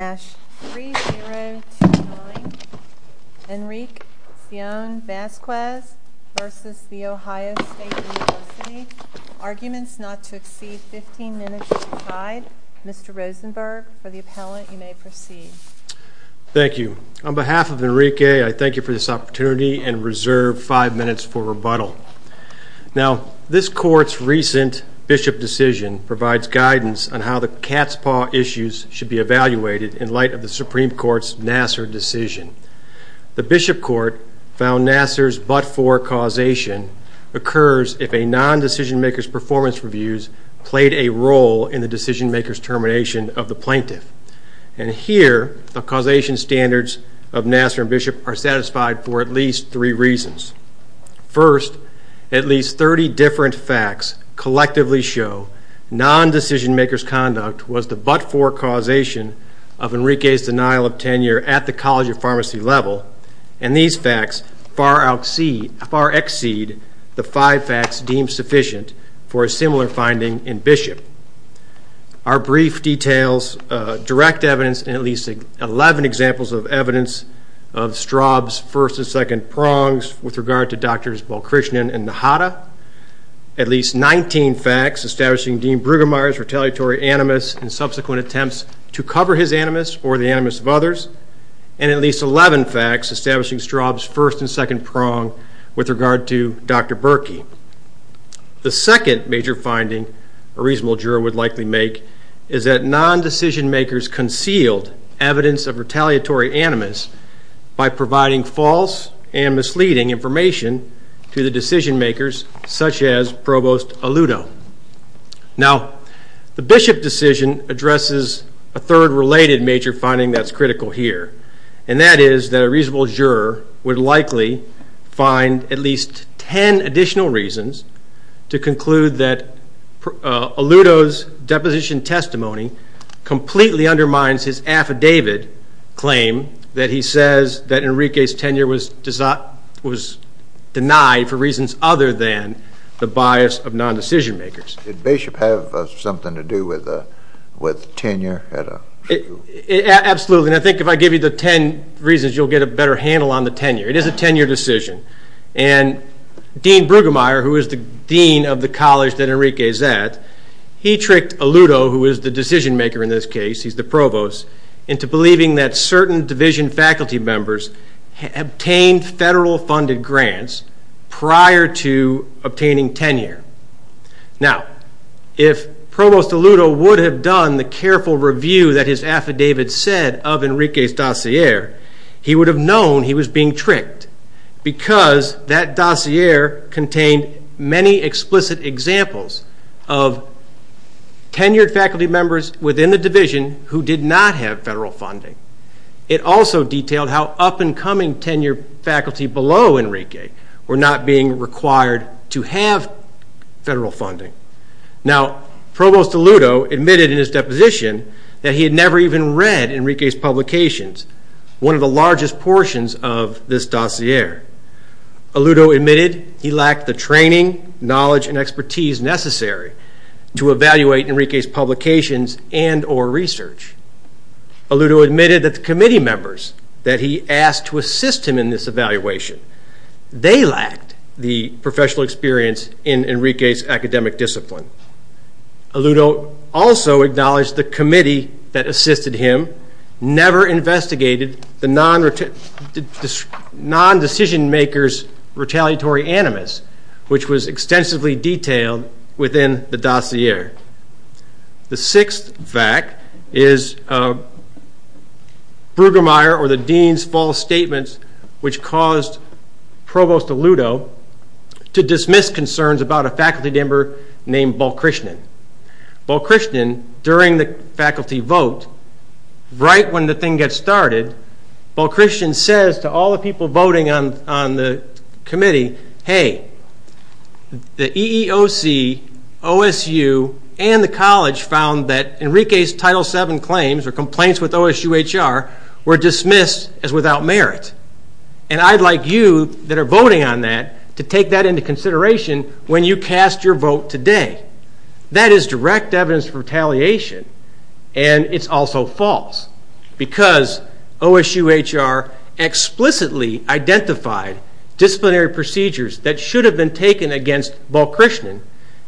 Arguments not to exceed 15 minutes have been tried. Mr. Rosenberg, for the appellant, you may proceed. Thank you. On behalf of Enrique, I thank you for this opportunity and reserve 5 minutes for rebuttal. Now, this court's recent Bishop decision provides guidance on how the cat's paw issues should be evaluated in light of the Supreme Court's Nassar decision. The Bishop court found Nassar's but-for causation occurs if a non-decision-maker's performance reviews played a role in the decision-maker's termination of the plaintiff. And here, the causation standards of Nassar and Bishop are satisfied for at least three reasons. First, at least 30 different facts collectively show non-decision-maker's conduct was the but-for causation of Enrique's denial of tenure at the College of Pharmacy level, and these facts far exceed the five facts deemed sufficient for a similar finding in Bishop. Our brief details direct evidence in at least 11 examples of evidence of Straub's first and second prongs with regard to Drs. Balkrishnan and Nahata, at least 19 facts establishing Dean Brueggemeyer's retaliatory animus and subsequent attempts to cover his animus or the animus of others, and at least 11 facts establishing Straub's first and second prong with regard to Dr. Berkey. The second major finding a reasonable juror would likely make is that non-decision-makers concealed evidence of retaliatory animus by providing false and misleading information to the decision-makers, such as Provost Aluto. Now, the Bishop decision addresses a third related major finding that's critical here, and that is that a reasonable juror would likely find at least 10 additional reasons to conclude that Aluto's deposition testimony completely undermines his affidavit claim that he says that Enrique's tenure was denied for reasons other than the bias of non-decision-makers. Did Bishop have something to do with tenure at a school? Absolutely, and I think if I give you the 10 reasons, you'll get a better handle on the tenure. It is a tenure decision, and Dean Brueggemeyer, who is the dean of the college that Enrique is at, he tricked Aluto, who is the decision-maker in this case, he's the provost, into believing that certain division faculty members obtained federal-funded grants prior to obtaining tenure. Now, if Provost Aluto would have done the careful review that his affidavit said of Enrique's dossier, he would have known he was being tricked, because that dossier contained many explicit examples of tenured faculty members within the division who did not have federal funding. It also detailed how up-and-coming tenured faculty below Enrique were not being required to have federal funding. Now, Provost Aluto admitted in his deposition that he had never even read Enrique's publications, one of the largest portions of this dossier. Aluto admitted he lacked the training, knowledge, and expertise necessary to evaluate Enrique's publications and or research. Aluto admitted that the committee members that he asked to assist him in this evaluation, they lacked the professional experience in Enrique's academic discipline. Aluto also acknowledged the committee that assisted him never investigated the non-decision-maker's retaliatory animus, which was extensively detailed within the dossier. The sixth fact is Brueggemeyer or the dean's false statements, which caused Provost Aluto to dismiss concerns about a faculty member named Balkrishnan. Balkrishnan, during the faculty vote, right when the thing gets started, Balkrishnan says to all the people voting on the committee, hey, the EEOC, OSU, and the college found that Enrique's Title VII claims or complaints with OSU HR were dismissed as without merit. And I'd like you that are voting on that to take that into consideration when you cast your vote today. That is direct evidence of retaliation, and it's also false. Because OSU HR explicitly identified disciplinary procedures that should have been taken against Balkrishnan,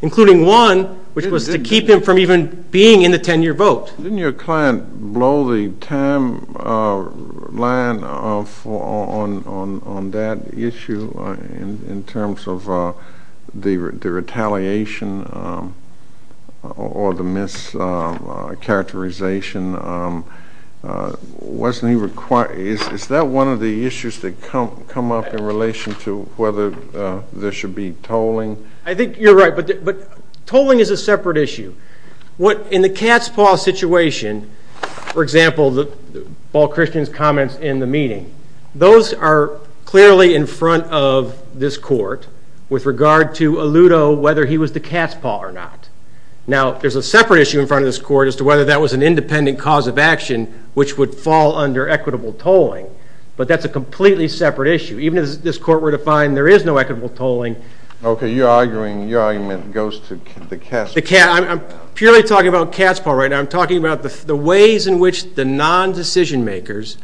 including one which was to keep him from even being in the 10-year vote. Didn't your client blow the timeline on that issue in terms of the retaliation or the mischaracterization? Is that one of the issues that come up in relation to whether there should be tolling? I think you're right, but tolling is a separate issue. In the Katzpah situation, for example, Balkrishnan's comments in the meeting, those are clearly in front of this court with regard to Aluto, whether he was to Katzpah or not. Now, there's a separate issue in front of this court as to whether that was an independent cause of action, which would fall under equitable tolling, but that's a completely separate issue. Even as this court were to find there is no equitable tolling. Okay, your argument goes to the Katzpah. I'm purely talking about Katzpah right now. I'm talking about the ways in which the non-decision-makers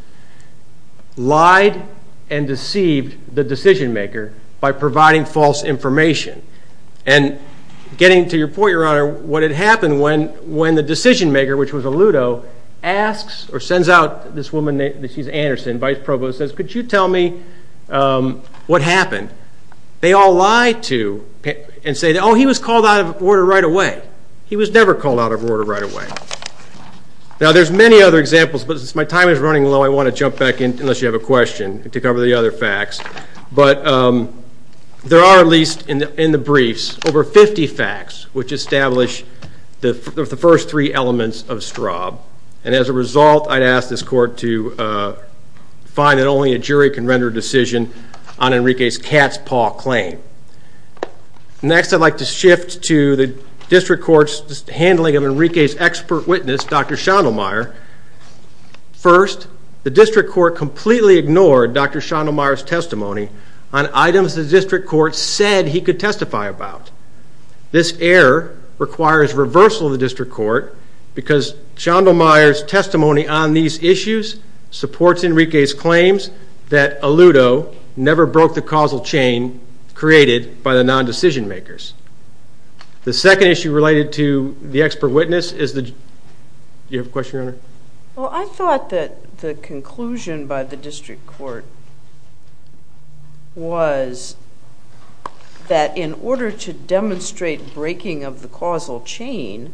lied and deceived the decision-maker by providing false information. And getting to your point, Your Honor, what had happened when the decision-maker, which was Aluto, sends out this woman, she's Anderson, Vice Provost, and says, could you tell me what happened? They all lie to and say, oh, he was called out of order right away. He was never called out of order right away. Now, there's many other examples, but as my time is running low, I want to jump back in, unless you have a question, to cover the other facts. But there are, at least in the briefs, over 50 facts which establish the first three elements of Straub. And as a result, I'd ask this court to find that only a jury can render a decision on Enrique's Katzpah claim. Next, I'd like to shift to the district court's handling of Enrique's expert witness, Dr. Schondelmaier. First, the district court completely ignored Dr. Schondelmaier's testimony on items the district court said he could testify about. This error requires reversal of the district court because Schondelmaier's testimony on these issues supports Enrique's claims that Aluto never broke the causal chain created by the non-decision-makers. The second issue related to the expert witness is the – do you have a question, Your Honor? Well, I thought that the conclusion by the district court was that in order to demonstrate breaking of the causal chain,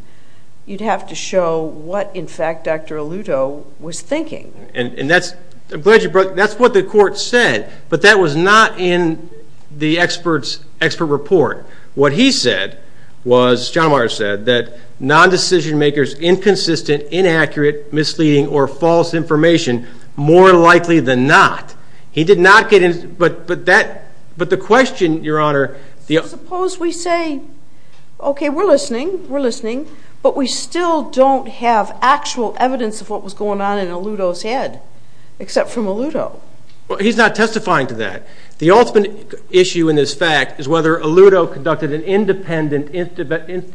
you'd have to show what, in fact, Dr. Aluto was thinking. And that's – I'm glad you brought – that's what the court said, but that was not in the expert's – expert report. What he said was – Schondelmaier said that non-decision-makers' inconsistent, inaccurate, misleading, or false information more likely than not. He did not get – but that – but the question, Your Honor – Suppose we say, okay, we're listening, we're listening, but we still don't have actual evidence of what was going on in Aluto's head, except from Aluto. Well, he's not testifying to that. The ultimate issue in this fact is whether Aluto conducted an independent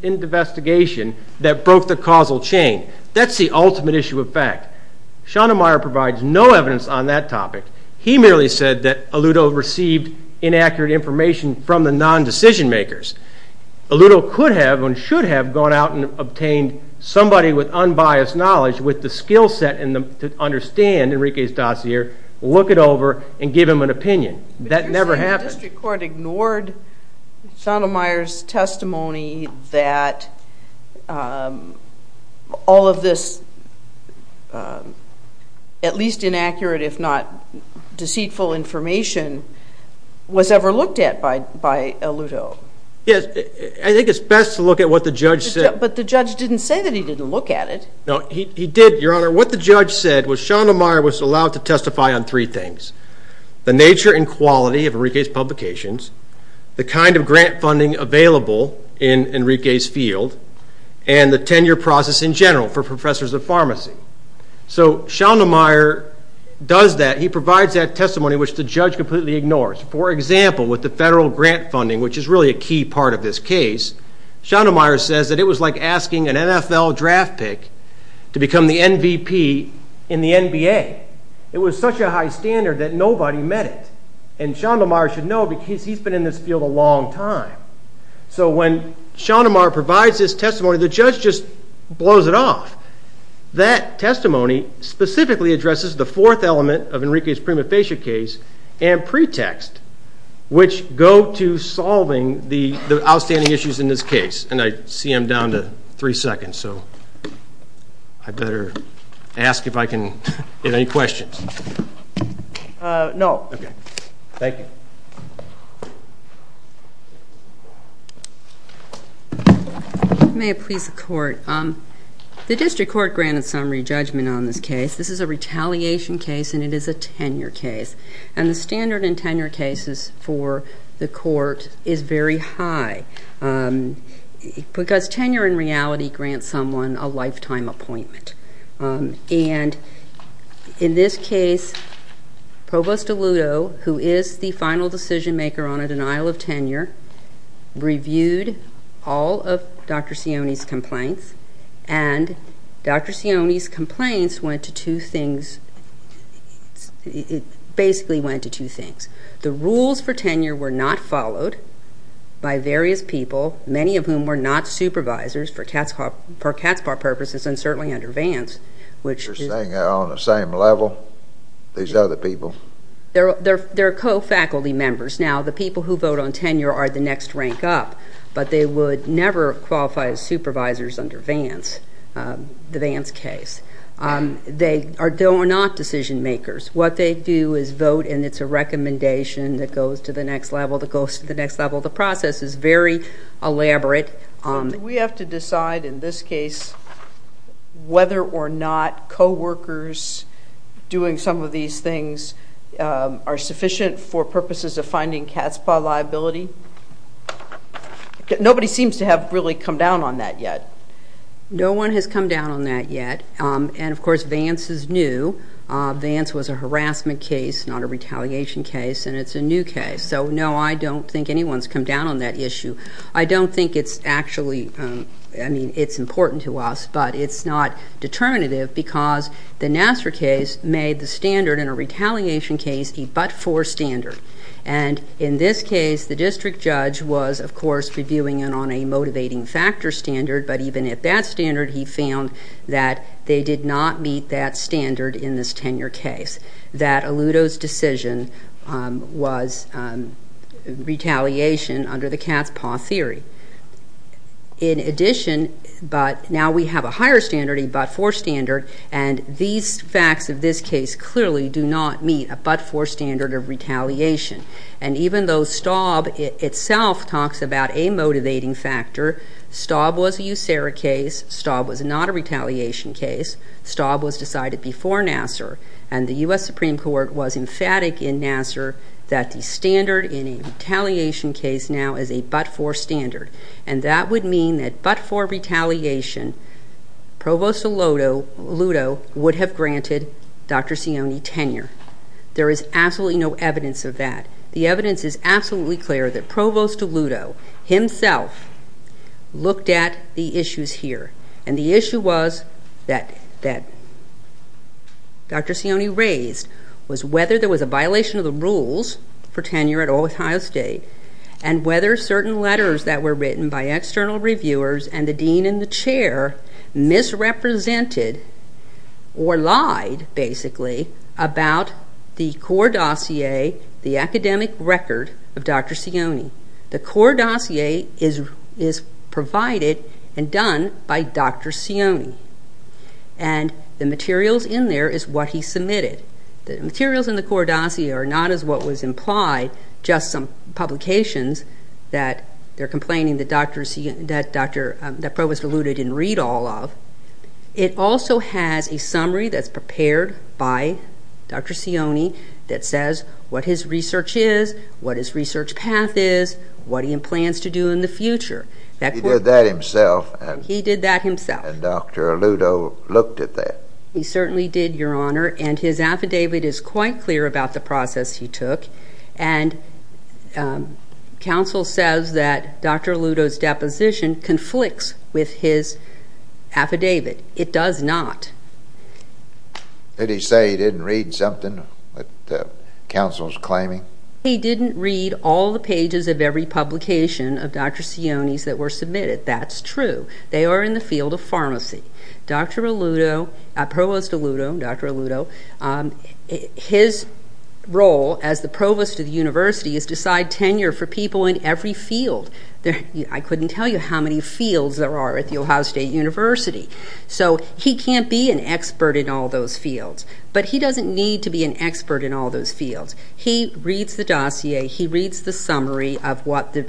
investigation that broke the causal chain. That's the ultimate issue of fact. Schondelmaier provides no evidence on that topic. He merely said that Aluto received inaccurate information from the non-decision-makers. Aluto could have and should have gone out and obtained somebody with unbiased knowledge, with the skill set to understand Enrique's dossier, look it over, and give him an opinion. That never happened. But you're saying the district court ignored Schondelmaier's testimony that all of this, at least inaccurate if not deceitful information, was ever looked at by Aluto? Yes, I think it's best to look at what the judge said. But the judge didn't say that he didn't look at it. No, he did, Your Honor. What the judge said was Schondelmaier was allowed to testify on three things, the nature and quality of Enrique's publications, the kind of grant funding available in Enrique's field, and the tenure process in general for professors of pharmacy. So Schondelmaier does that. He provides that testimony, which the judge completely ignores. For example, with the federal grant funding, which is really a key part of this case, Schondelmaier says that it was like asking an NFL draft pick to become the MVP in the NBA. It was such a high standard that nobody met it. And Schondelmaier should know because he's been in this field a long time. So when Schondelmaier provides his testimony, the judge just blows it off. That testimony specifically addresses the fourth element of Enrique's prima facie case and pretext, which go to solving the outstanding issues in this case. And I see I'm down to three seconds, so I better ask if I can get any questions. No. Okay. Thank you. May it please the court. The district court granted summary judgment on this case. This is a retaliation case, and it is a tenure case. And the standard in tenure cases for the court is very high because tenure in reality grants someone a lifetime appointment. And in this case, Provost DeLutto, who is the final decision maker on a denial of tenure, reviewed all of Dr. Sione's complaints, and Dr. Sione's complaints went to two things. It basically went to two things. The rules for tenure were not followed by various people, many of whom were not supervisors, for cat's paw purposes, and certainly under Vance. You're saying they're on the same level, these other people? They're co-faculty members. Now, the people who vote on tenure are the next rank up, but they would never qualify as supervisors under Vance, the Vance case. They are not decision makers. What they do is vote, and it's a recommendation that goes to the next level, that goes to the next level. The process is very elaborate. Do we have to decide in this case whether or not co-workers doing some of these things are sufficient for purposes of finding cat's paw liability? Nobody seems to have really come down on that yet. No one has come down on that yet, and, of course, Vance is new. Vance was a harassment case, not a retaliation case, and it's a new case. So, no, I don't think anyone's come down on that issue. I don't think it's actually important to us, but it's not determinative because the Nassar case made the standard in a retaliation case a but-for standard. And in this case, the district judge was, of course, reviewing it on a motivating factor standard, but even at that standard he found that they did not meet that standard in this tenure case, that Aluto's decision was retaliation under the cat's paw theory. In addition, but now we have a higher standard, a but-for standard, and these facts of this case clearly do not meet a but-for standard of retaliation. And even though Staub itself talks about a motivating factor, Staub was a USERRA case, Staub was not a retaliation case, Staub was decided before Nassar, and the US Supreme Court was emphatic in Nassar that the standard in a retaliation case now is a but-for standard, and that would mean that but-for retaliation, Provost Aluto would have granted Dr. Sioni tenure. There is absolutely no evidence of that. The evidence is absolutely clear that Provost Aluto himself looked at the issues here, and the issue was that Dr. Sioni raised was whether there was a violation of the rules for tenure at Ohio State and whether certain letters that were written by external reviewers and the dean and the chair misrepresented or lied, basically, about the core dossier, the academic record of Dr. Sioni. The core dossier is provided and done by Dr. Sioni, and the materials in there is what he submitted. The materials in the core dossier are not as what was implied, just some publications that they're complaining that Provost Aluto didn't read all of. It also has a summary that's prepared by Dr. Sioni that says what his research is, what his research path is, what he plans to do in the future. He did that himself? He did that himself. And Dr. Aluto looked at that? He certainly did, Your Honor, and his affidavit is quite clear about the process he took, and counsel says that Dr. Aluto's deposition conflicts with his affidavit. It does not. Did he say he didn't read something that counsel's claiming? He didn't read all the pages of every publication of Dr. Sioni's that were submitted. That's true. They are in the field of pharmacy. Provost Aluto, Dr. Aluto, his role as the provost of the university is to decide tenure for people in every field. I couldn't tell you how many fields there are at The Ohio State University. So he can't be an expert in all those fields, but he doesn't need to be an expert in all those fields. He reads the dossier. He reads the summary of what the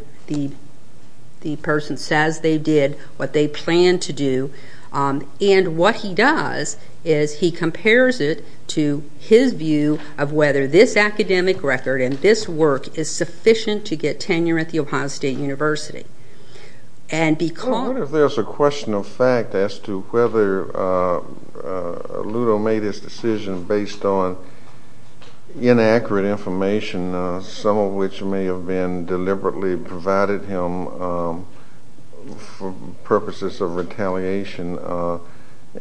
person says they did, what they planned to do, and what he does is he compares it to his view of whether this academic record and this work is sufficient to get tenure at The Ohio State University. I wonder if there's a question of fact as to whether Aluto made his decision based on inaccurate information, some of which may have been deliberately provided him for purposes of retaliation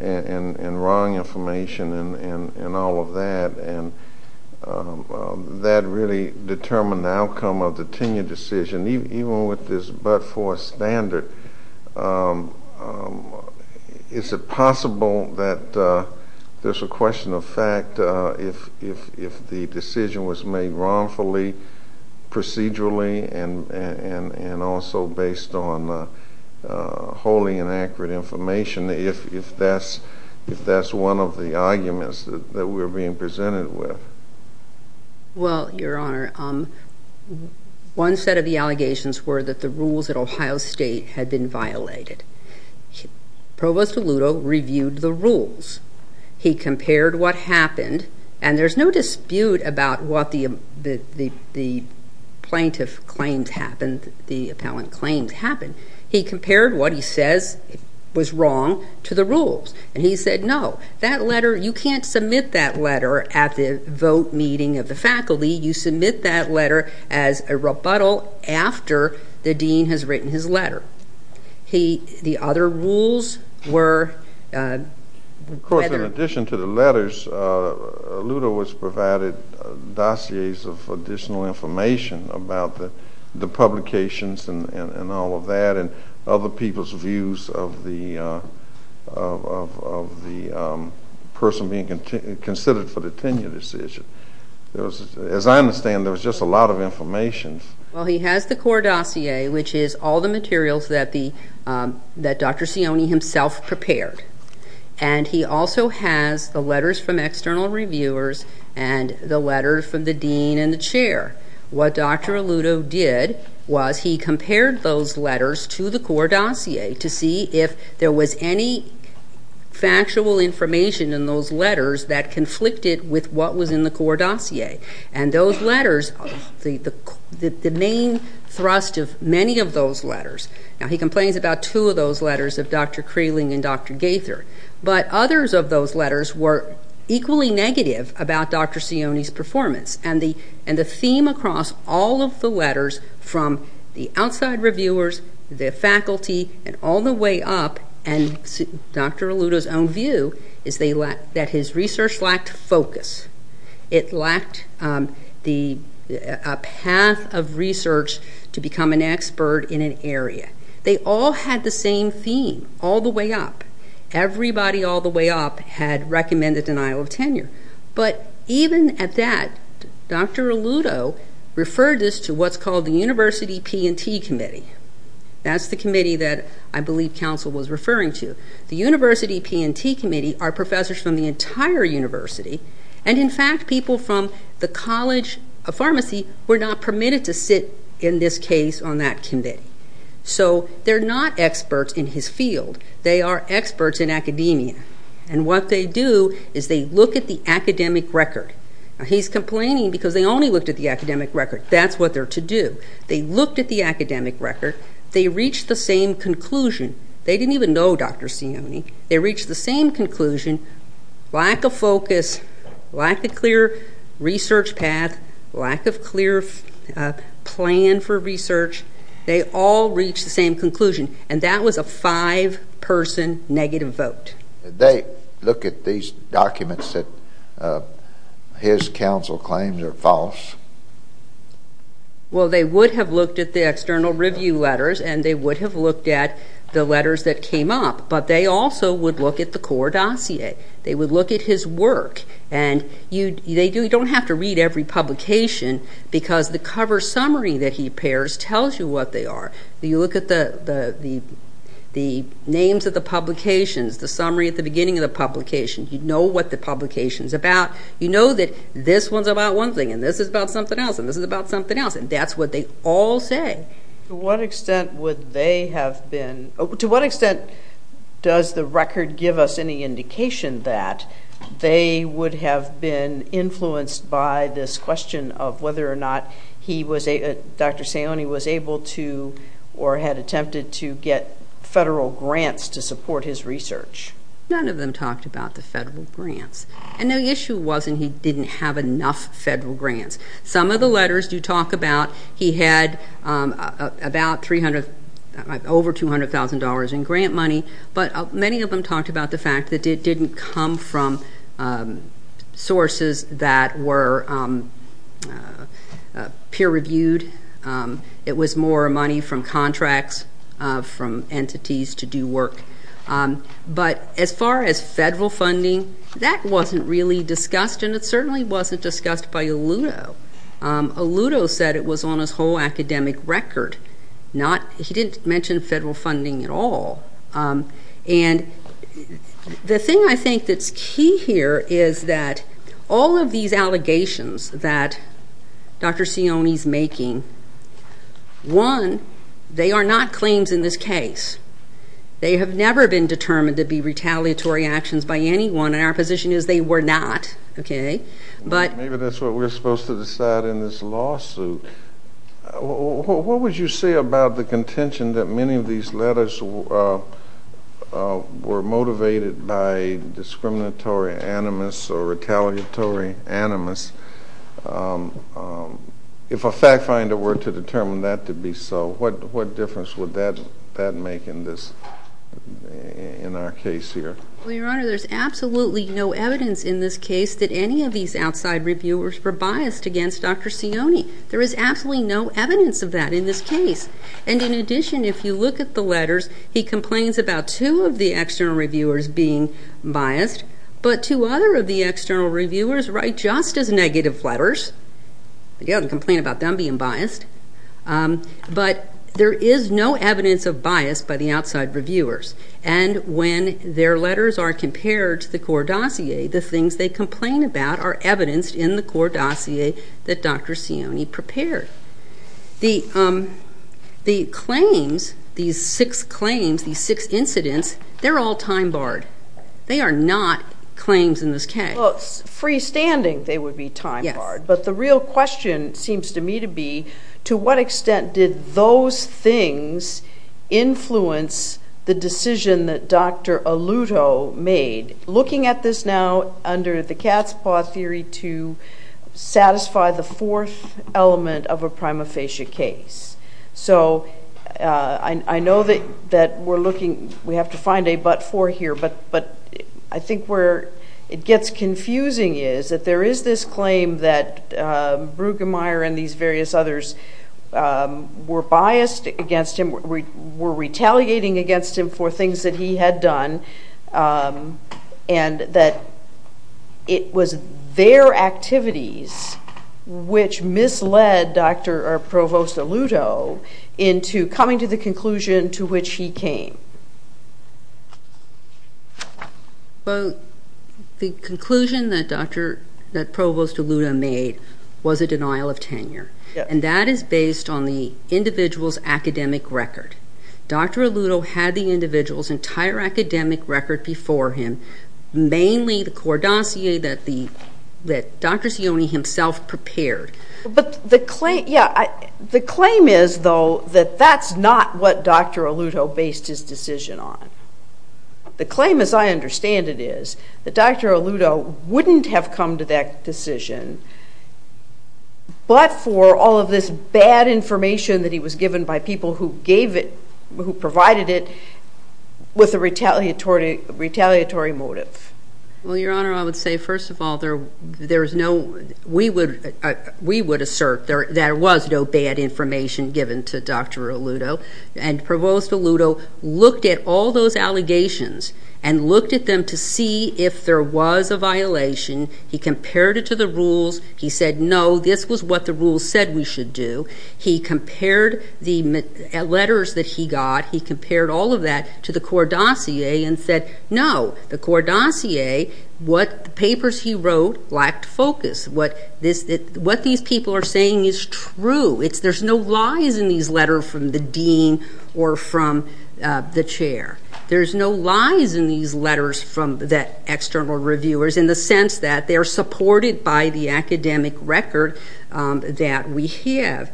and wrong information and all of that, and that really determined the outcome of the tenure decision. Even with this but-for standard, is it possible that there's a question of fact if the decision was made wrongfully procedurally and also based on wholly inaccurate information, if that's one of the arguments that we're being presented with? Well, Your Honor, one set of the allegations were that the rules at Ohio State had been violated. Provost Aluto reviewed the rules. He compared what happened, and there's no dispute about what the plaintiff claims happened, the appellant claims happened. He compared what he says was wrong to the rules, and he said, No, that letter, you can't submit that letter at the vote meeting of the faculty. You submit that letter as a rebuttal after the dean has written his letter. The other rules were whether- Of course, in addition to the letters, Aluto has provided dossiers of additional information about the publications and all of that and other people's views of the person being considered for the tenure decision. As I understand, there was just a lot of information. Well, he has the core dossier, which is all the materials that Dr. Sione himself prepared, and he also has the letters from external reviewers and the letters from the dean and the chair. What Dr. Aluto did was he compared those letters to the core dossier to see if there was any factual information in those letters that conflicted with what was in the core dossier. And those letters, the main thrust of many of those letters- Now, he complains about two of those letters of Dr. Kraling and Dr. Gaither, but others of those letters were equally negative about Dr. Sione's performance, and the theme across all of the letters from the outside reviewers, the faculty, and all the way up, and Dr. Aluto's own view is that his research lacked focus. It lacked a path of research to become an expert in an area. They all had the same theme all the way up. Everybody all the way up had recommended denial of tenure. But even at that, Dr. Aluto referred this to what's called the University P&T Committee. That's the committee that I believe Council was referring to. The University P&T Committee are professors from the entire university, and in fact people from the College of Pharmacy were not permitted to sit, in this case, on that committee. So they're not experts in his field. They are experts in academia. And what they do is they look at the academic record. Now, he's complaining because they only looked at the academic record. That's what they're to do. They looked at the academic record. They reached the same conclusion. They didn't even know Dr. Sione. They reached the same conclusion. Lack of focus, lack of clear research path, lack of clear plan for research. They all reached the same conclusion, and that was a five-person negative vote. Did they look at these documents that his council claims are false? Well, they would have looked at the external review letters, and they would have looked at the letters that came up. But they also would look at the core dossier. They would look at his work. And you don't have to read every publication because the cover summary that he pairs tells you what they are. You look at the names of the publications, the summary at the beginning of the publication. You know what the publication's about. You know that this one's about one thing and this is about something else and this is about something else, and that's what they all say. To what extent does the record give us any indication that they would have been influenced by this question of whether or not Dr. Sione was able to or had attempted to get federal grants to support his research? None of them talked about the federal grants. And the issue wasn't he didn't have enough federal grants. Some of the letters do talk about he had over $200,000 in grant money, but many of them talked about the fact that it didn't come from sources that were peer-reviewed. It was more money from contracts, from entities to do work. But as far as federal funding, that wasn't really discussed, and it certainly wasn't discussed by Aluto. Aluto said it was on his whole academic record. He didn't mention federal funding at all. And the thing I think that's key here is that all of these allegations that Dr. Sione's making, one, they are not claims in this case. They have never been determined to be retaliatory actions by anyone, and our position is they were not. Maybe that's what we're supposed to decide in this lawsuit. What would you say about the contention that many of these letters were motivated by discriminatory animus or retaliatory animus? If a fact finder were to determine that to be so, what difference would that make in our case here? Well, Your Honor, there's absolutely no evidence in this case that any of these outside reviewers were biased against Dr. Sione. There is absolutely no evidence of that in this case. And in addition, if you look at the letters, he complains about two of the external reviewers being biased, but two other of the external reviewers write just as negative letters. He doesn't complain about them being biased. But there is no evidence of bias by the outside reviewers, and when their letters are compared to the core dossier, the things they complain about are evidenced in the core dossier that Dr. Sione prepared. The claims, these six claims, these six incidents, they're all time-barred. They are not claims in this case. Well, freestanding they would be time-barred. Yes. But the real question seems to me to be to what extent did those things influence the decision that Dr. Aluto made? Looking at this now under the cat's paw theory to satisfy the fourth element of a prima facie case. So I know that we're looking, we have to find a but for here, but I think where it gets confusing is that there is this claim that Brueggemeyer and these various others were biased against him, were retaliating against him for things that he had done, and that it was their activities which misled Dr. or Provost Aluto into coming to the conclusion to which he came. Well, the conclusion that Provost Aluto made was a denial of tenure, and that is based on the individual's academic record. Dr. Aluto had the individual's entire academic record before him, mainly the core dossier that Dr. Sione himself prepared. But the claim is, though, that that's not what Dr. Aluto based his decision on. The claim, as I understand it, is that Dr. Aluto wouldn't have come to that decision but for all of this bad information that he was given by people who gave it, who provided it, with a retaliatory motive. Well, Your Honor, I would say, first of all, there is no, we would assert there was no bad information given to Dr. Aluto, and Provost Aluto looked at all those allegations and looked at them to see if there was a violation. He compared it to the rules. He said, no, this was what the rules said we should do. He compared the letters that he got. He compared all of that to the core dossier and said, no, the core dossier, what papers he wrote lacked focus. What these people are saying is true. There's no lies in these letters from the dean or from the chair. There's no lies in these letters from the external reviewers in the sense that they're supported by the academic record that we have.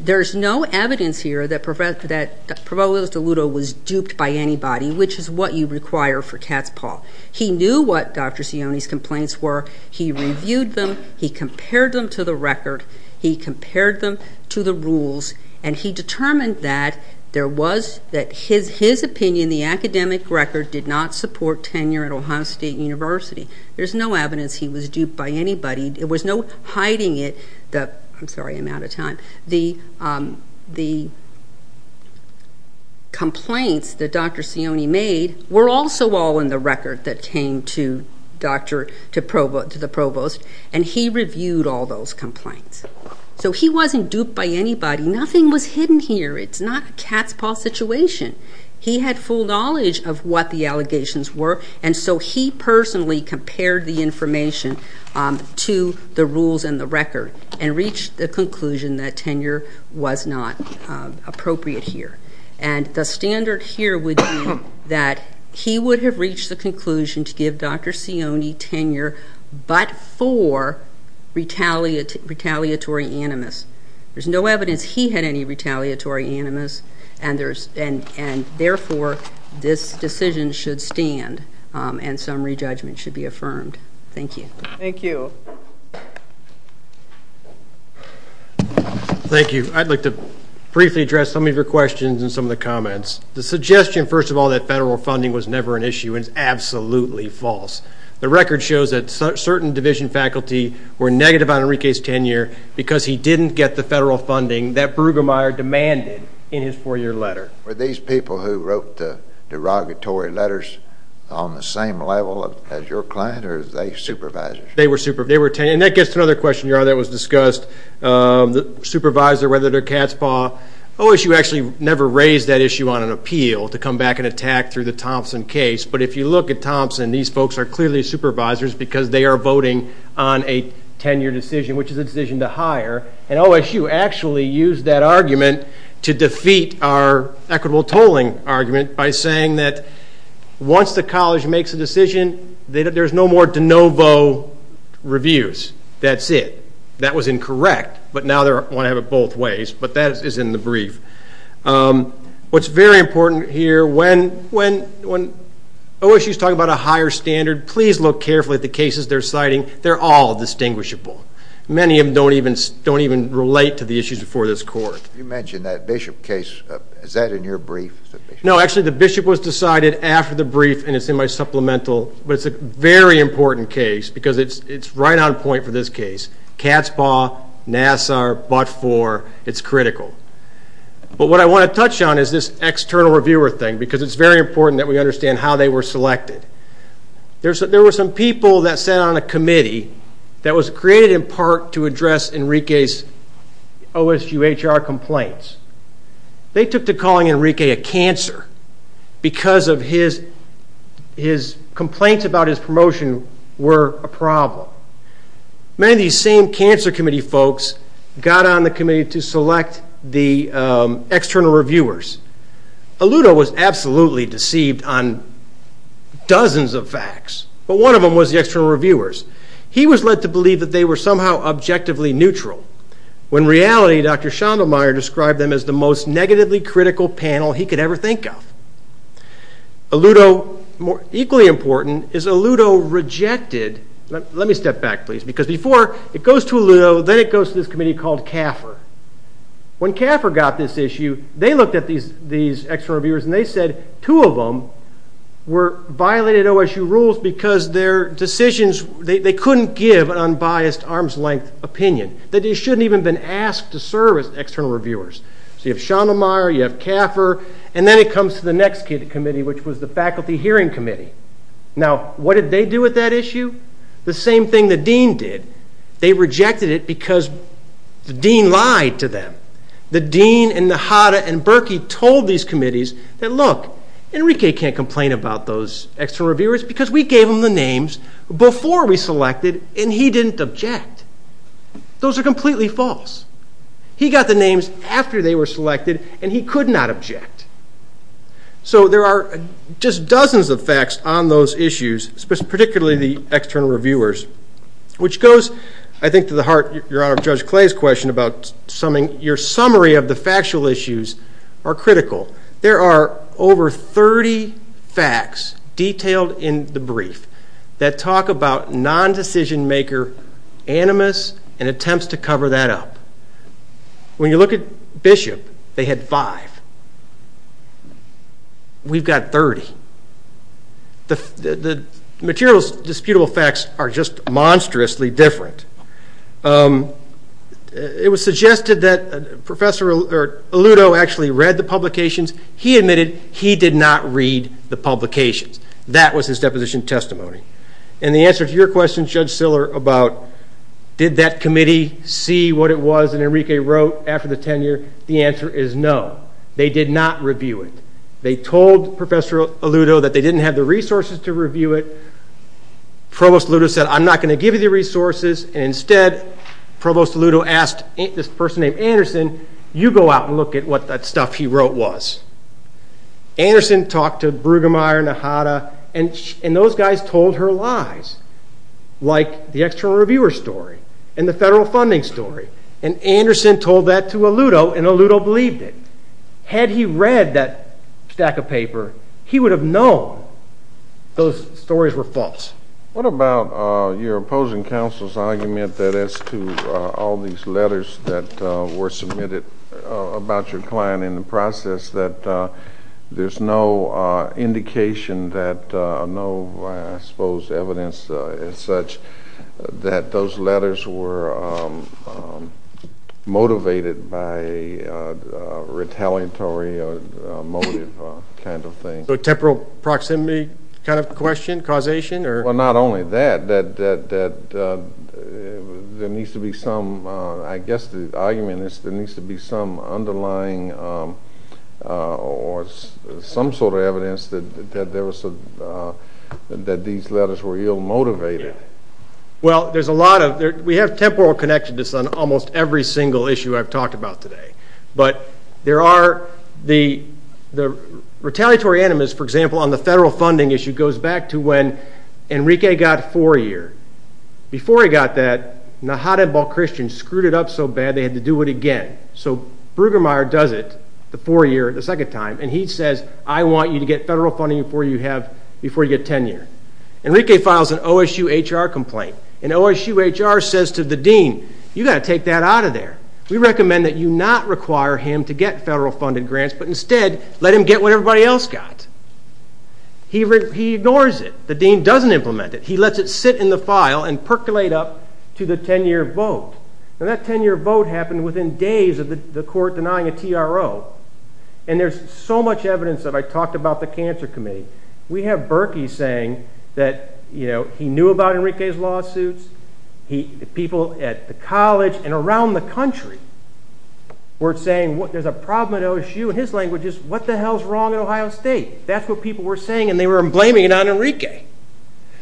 There's no evidence here that Provost Aluto was duped by anybody, which is what you require for Katzpahl. He knew what Dr. Sione's complaints were. He reviewed them. He compared them to the record. He compared them to the rules. He determined that his opinion, the academic record, did not support tenure at Ohio State University. There's no evidence he was duped by anybody. There was no hiding it. I'm sorry, I'm out of time. The complaints that Dr. Sione made were also all in the record that came to the provost, and he reviewed all those complaints. So he wasn't duped by anybody. Nothing was hidden here. It's not a Katzpahl situation. He had full knowledge of what the allegations were, and so he personally compared the information to the rules and the record and reached the conclusion that tenure was not appropriate here. And the standard here would be that he would have reached the conclusion to give Dr. Sione tenure but for retaliatory animus. There's no evidence he had any retaliatory animus, and therefore this decision should stand and some re-judgment should be affirmed. Thank you. Thank you. Thank you. Thank you. I'd like to briefly address some of your questions and some of the comments. The suggestion, first of all, that federal funding was never an issue is absolutely false. The record shows that certain division faculty were negative on Enrique's tenure because he didn't get the federal funding that Brueggemeyer demanded in his four-year letter. Were these people who wrote the derogatory letters on the same level as your client, or were they supervisors? And that gets to another question that was discussed, the supervisor, whether they're cat's paw. OSU actually never raised that issue on an appeal to come back and attack through the Thompson case, but if you look at Thompson, these folks are clearly supervisors because they are voting on a 10-year decision, which is a decision to hire, and OSU actually used that argument to defeat our equitable tolling argument by saying that once the college makes a decision, there's no more de novo reviews. That's it. That was incorrect, but now they want to have it both ways, but that is in the brief. What's very important here, when OSU is talking about a higher standard, please look carefully at the cases they're citing. They're all distinguishable. Many of them don't even relate to the issues before this court. You mentioned that Bishop case. Is that in your brief? No, actually the Bishop was decided after the brief, and it's in my supplemental, but it's a very important case because it's right on point for this case. Cat's paw, NASR, but-for, it's critical. But what I want to touch on is this external reviewer thing because it's very important that we understand how they were selected. There were some people that sat on a committee that was created in part to address Enrique's OSU HR complaints. They took to calling Enrique a cancer because his complaints about his promotion were a problem. Many of these same cancer committee folks got on the committee to select the external reviewers. Aludo was absolutely deceived on dozens of facts, but one of them was the external reviewers. He was led to believe that they were somehow objectively neutral when in reality Dr. Schondelmayr described them as the most negatively critical panel he could ever think of. Aludo, equally important, is Aludo rejected, let me step back please, because before it goes to Aludo, then it goes to this committee called CAFR. When CAFR got this issue, they looked at these external reviewers and they said two of them were violated OSU rules because their decisions, they couldn't give an unbiased arm's length opinion. They shouldn't have even been asked to serve as external reviewers. So you have Schondelmayr, you have CAFR, and then it comes to the next committee, which was the Faculty Hearing Committee. Now, what did they do with that issue? The same thing the dean did. They rejected it because the dean lied to them. The dean and Nahata and Berkey told these committees that, look, Enrique can't complain about those external reviewers because we gave them the names before we selected and he didn't object. Those are completely false. He got the names after they were selected and he could not object. So there are just dozens of facts on those issues, particularly the external reviewers, which goes, I think, to the heart, Your Honor, of Judge Clay's question about your summary of the factual issues are critical. There are over 30 facts detailed in the brief that talk about non-decision-maker animus and attempts to cover that up. When you look at Bishop, they had five. We've got 30. The materials disputable facts are just monstrously different. It was suggested that Professor Aluto actually read the publications. He admitted he did not read the publications. That was his deposition testimony. And the answer to your question, Judge Siller, about did that committee see what it was that Enrique wrote after the tenure, the answer is no. They did not review it. They told Professor Aluto that they didn't have the resources to review it. Provost Aluto said, I'm not going to give you the resources, and instead, Provost Aluto asked this person named Anderson, you go out and look at what that stuff he wrote was. Anderson talked to Brueggemeyer and Ahada, and those guys told her lies, like the external reviewer story and the federal funding story. And Anderson told that to Aluto, and Aluto believed it. Had he read that stack of paper, he would have known those stories were false. What about your opposing counsel's argument that as to all these letters that were submitted about your client in the process that there's no indication that no, I suppose, evidence as such that those letters were motivated by retaliatory motive kind of thing? So temporal proximity kind of question, causation? Well, not only that, that there needs to be some, I guess the argument is there needs to be some underlying or some sort of evidence that these letters were ill-motivated. Well, there's a lot of, we have temporal connections on almost every single issue I've talked about today. But there are, the retaliatory animus, for example, on the federal funding issue goes back to when Enrique got four-year. Before he got that, Nahada Balchristian screwed it up so bad they had to do it again. So Brueggemeyer does it the four-year, the second time, and he says, I want you to get federal funding before you get 10-year. Enrique files an OSUHR complaint. And OSUHR says to the dean, you've got to take that out of there. We recommend that you not require him to get federal funded grants, but instead let him get what everybody else got. He ignores it. The dean doesn't implement it. He lets it sit in the file and percolate up to the 10-year vote. And that 10-year vote happened within days of the court denying a TRO. And there's so much evidence that I talked about the Cancer Committee. We have Berkey saying that he knew about Enrique's lawsuits. People at the college and around the country were saying there's a problem at OSU. His language is, what the hell's wrong at Ohio State? That's what people were saying, and they were blaming it on Enrique.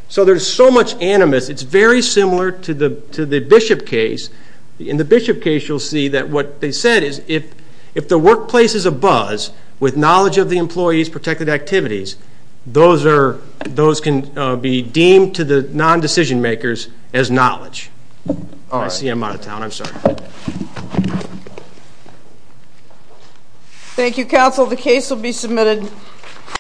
So there's so much animus. It's very similar to the Bishop case. In the Bishop case, you'll see that what they said is if the workplace is abuzz with knowledge of the employee's protected activities, those can be deemed to the non-decision makers as knowledge. I see I'm out of town. I'm sorry. Thank you, counsel. The case will be submitted.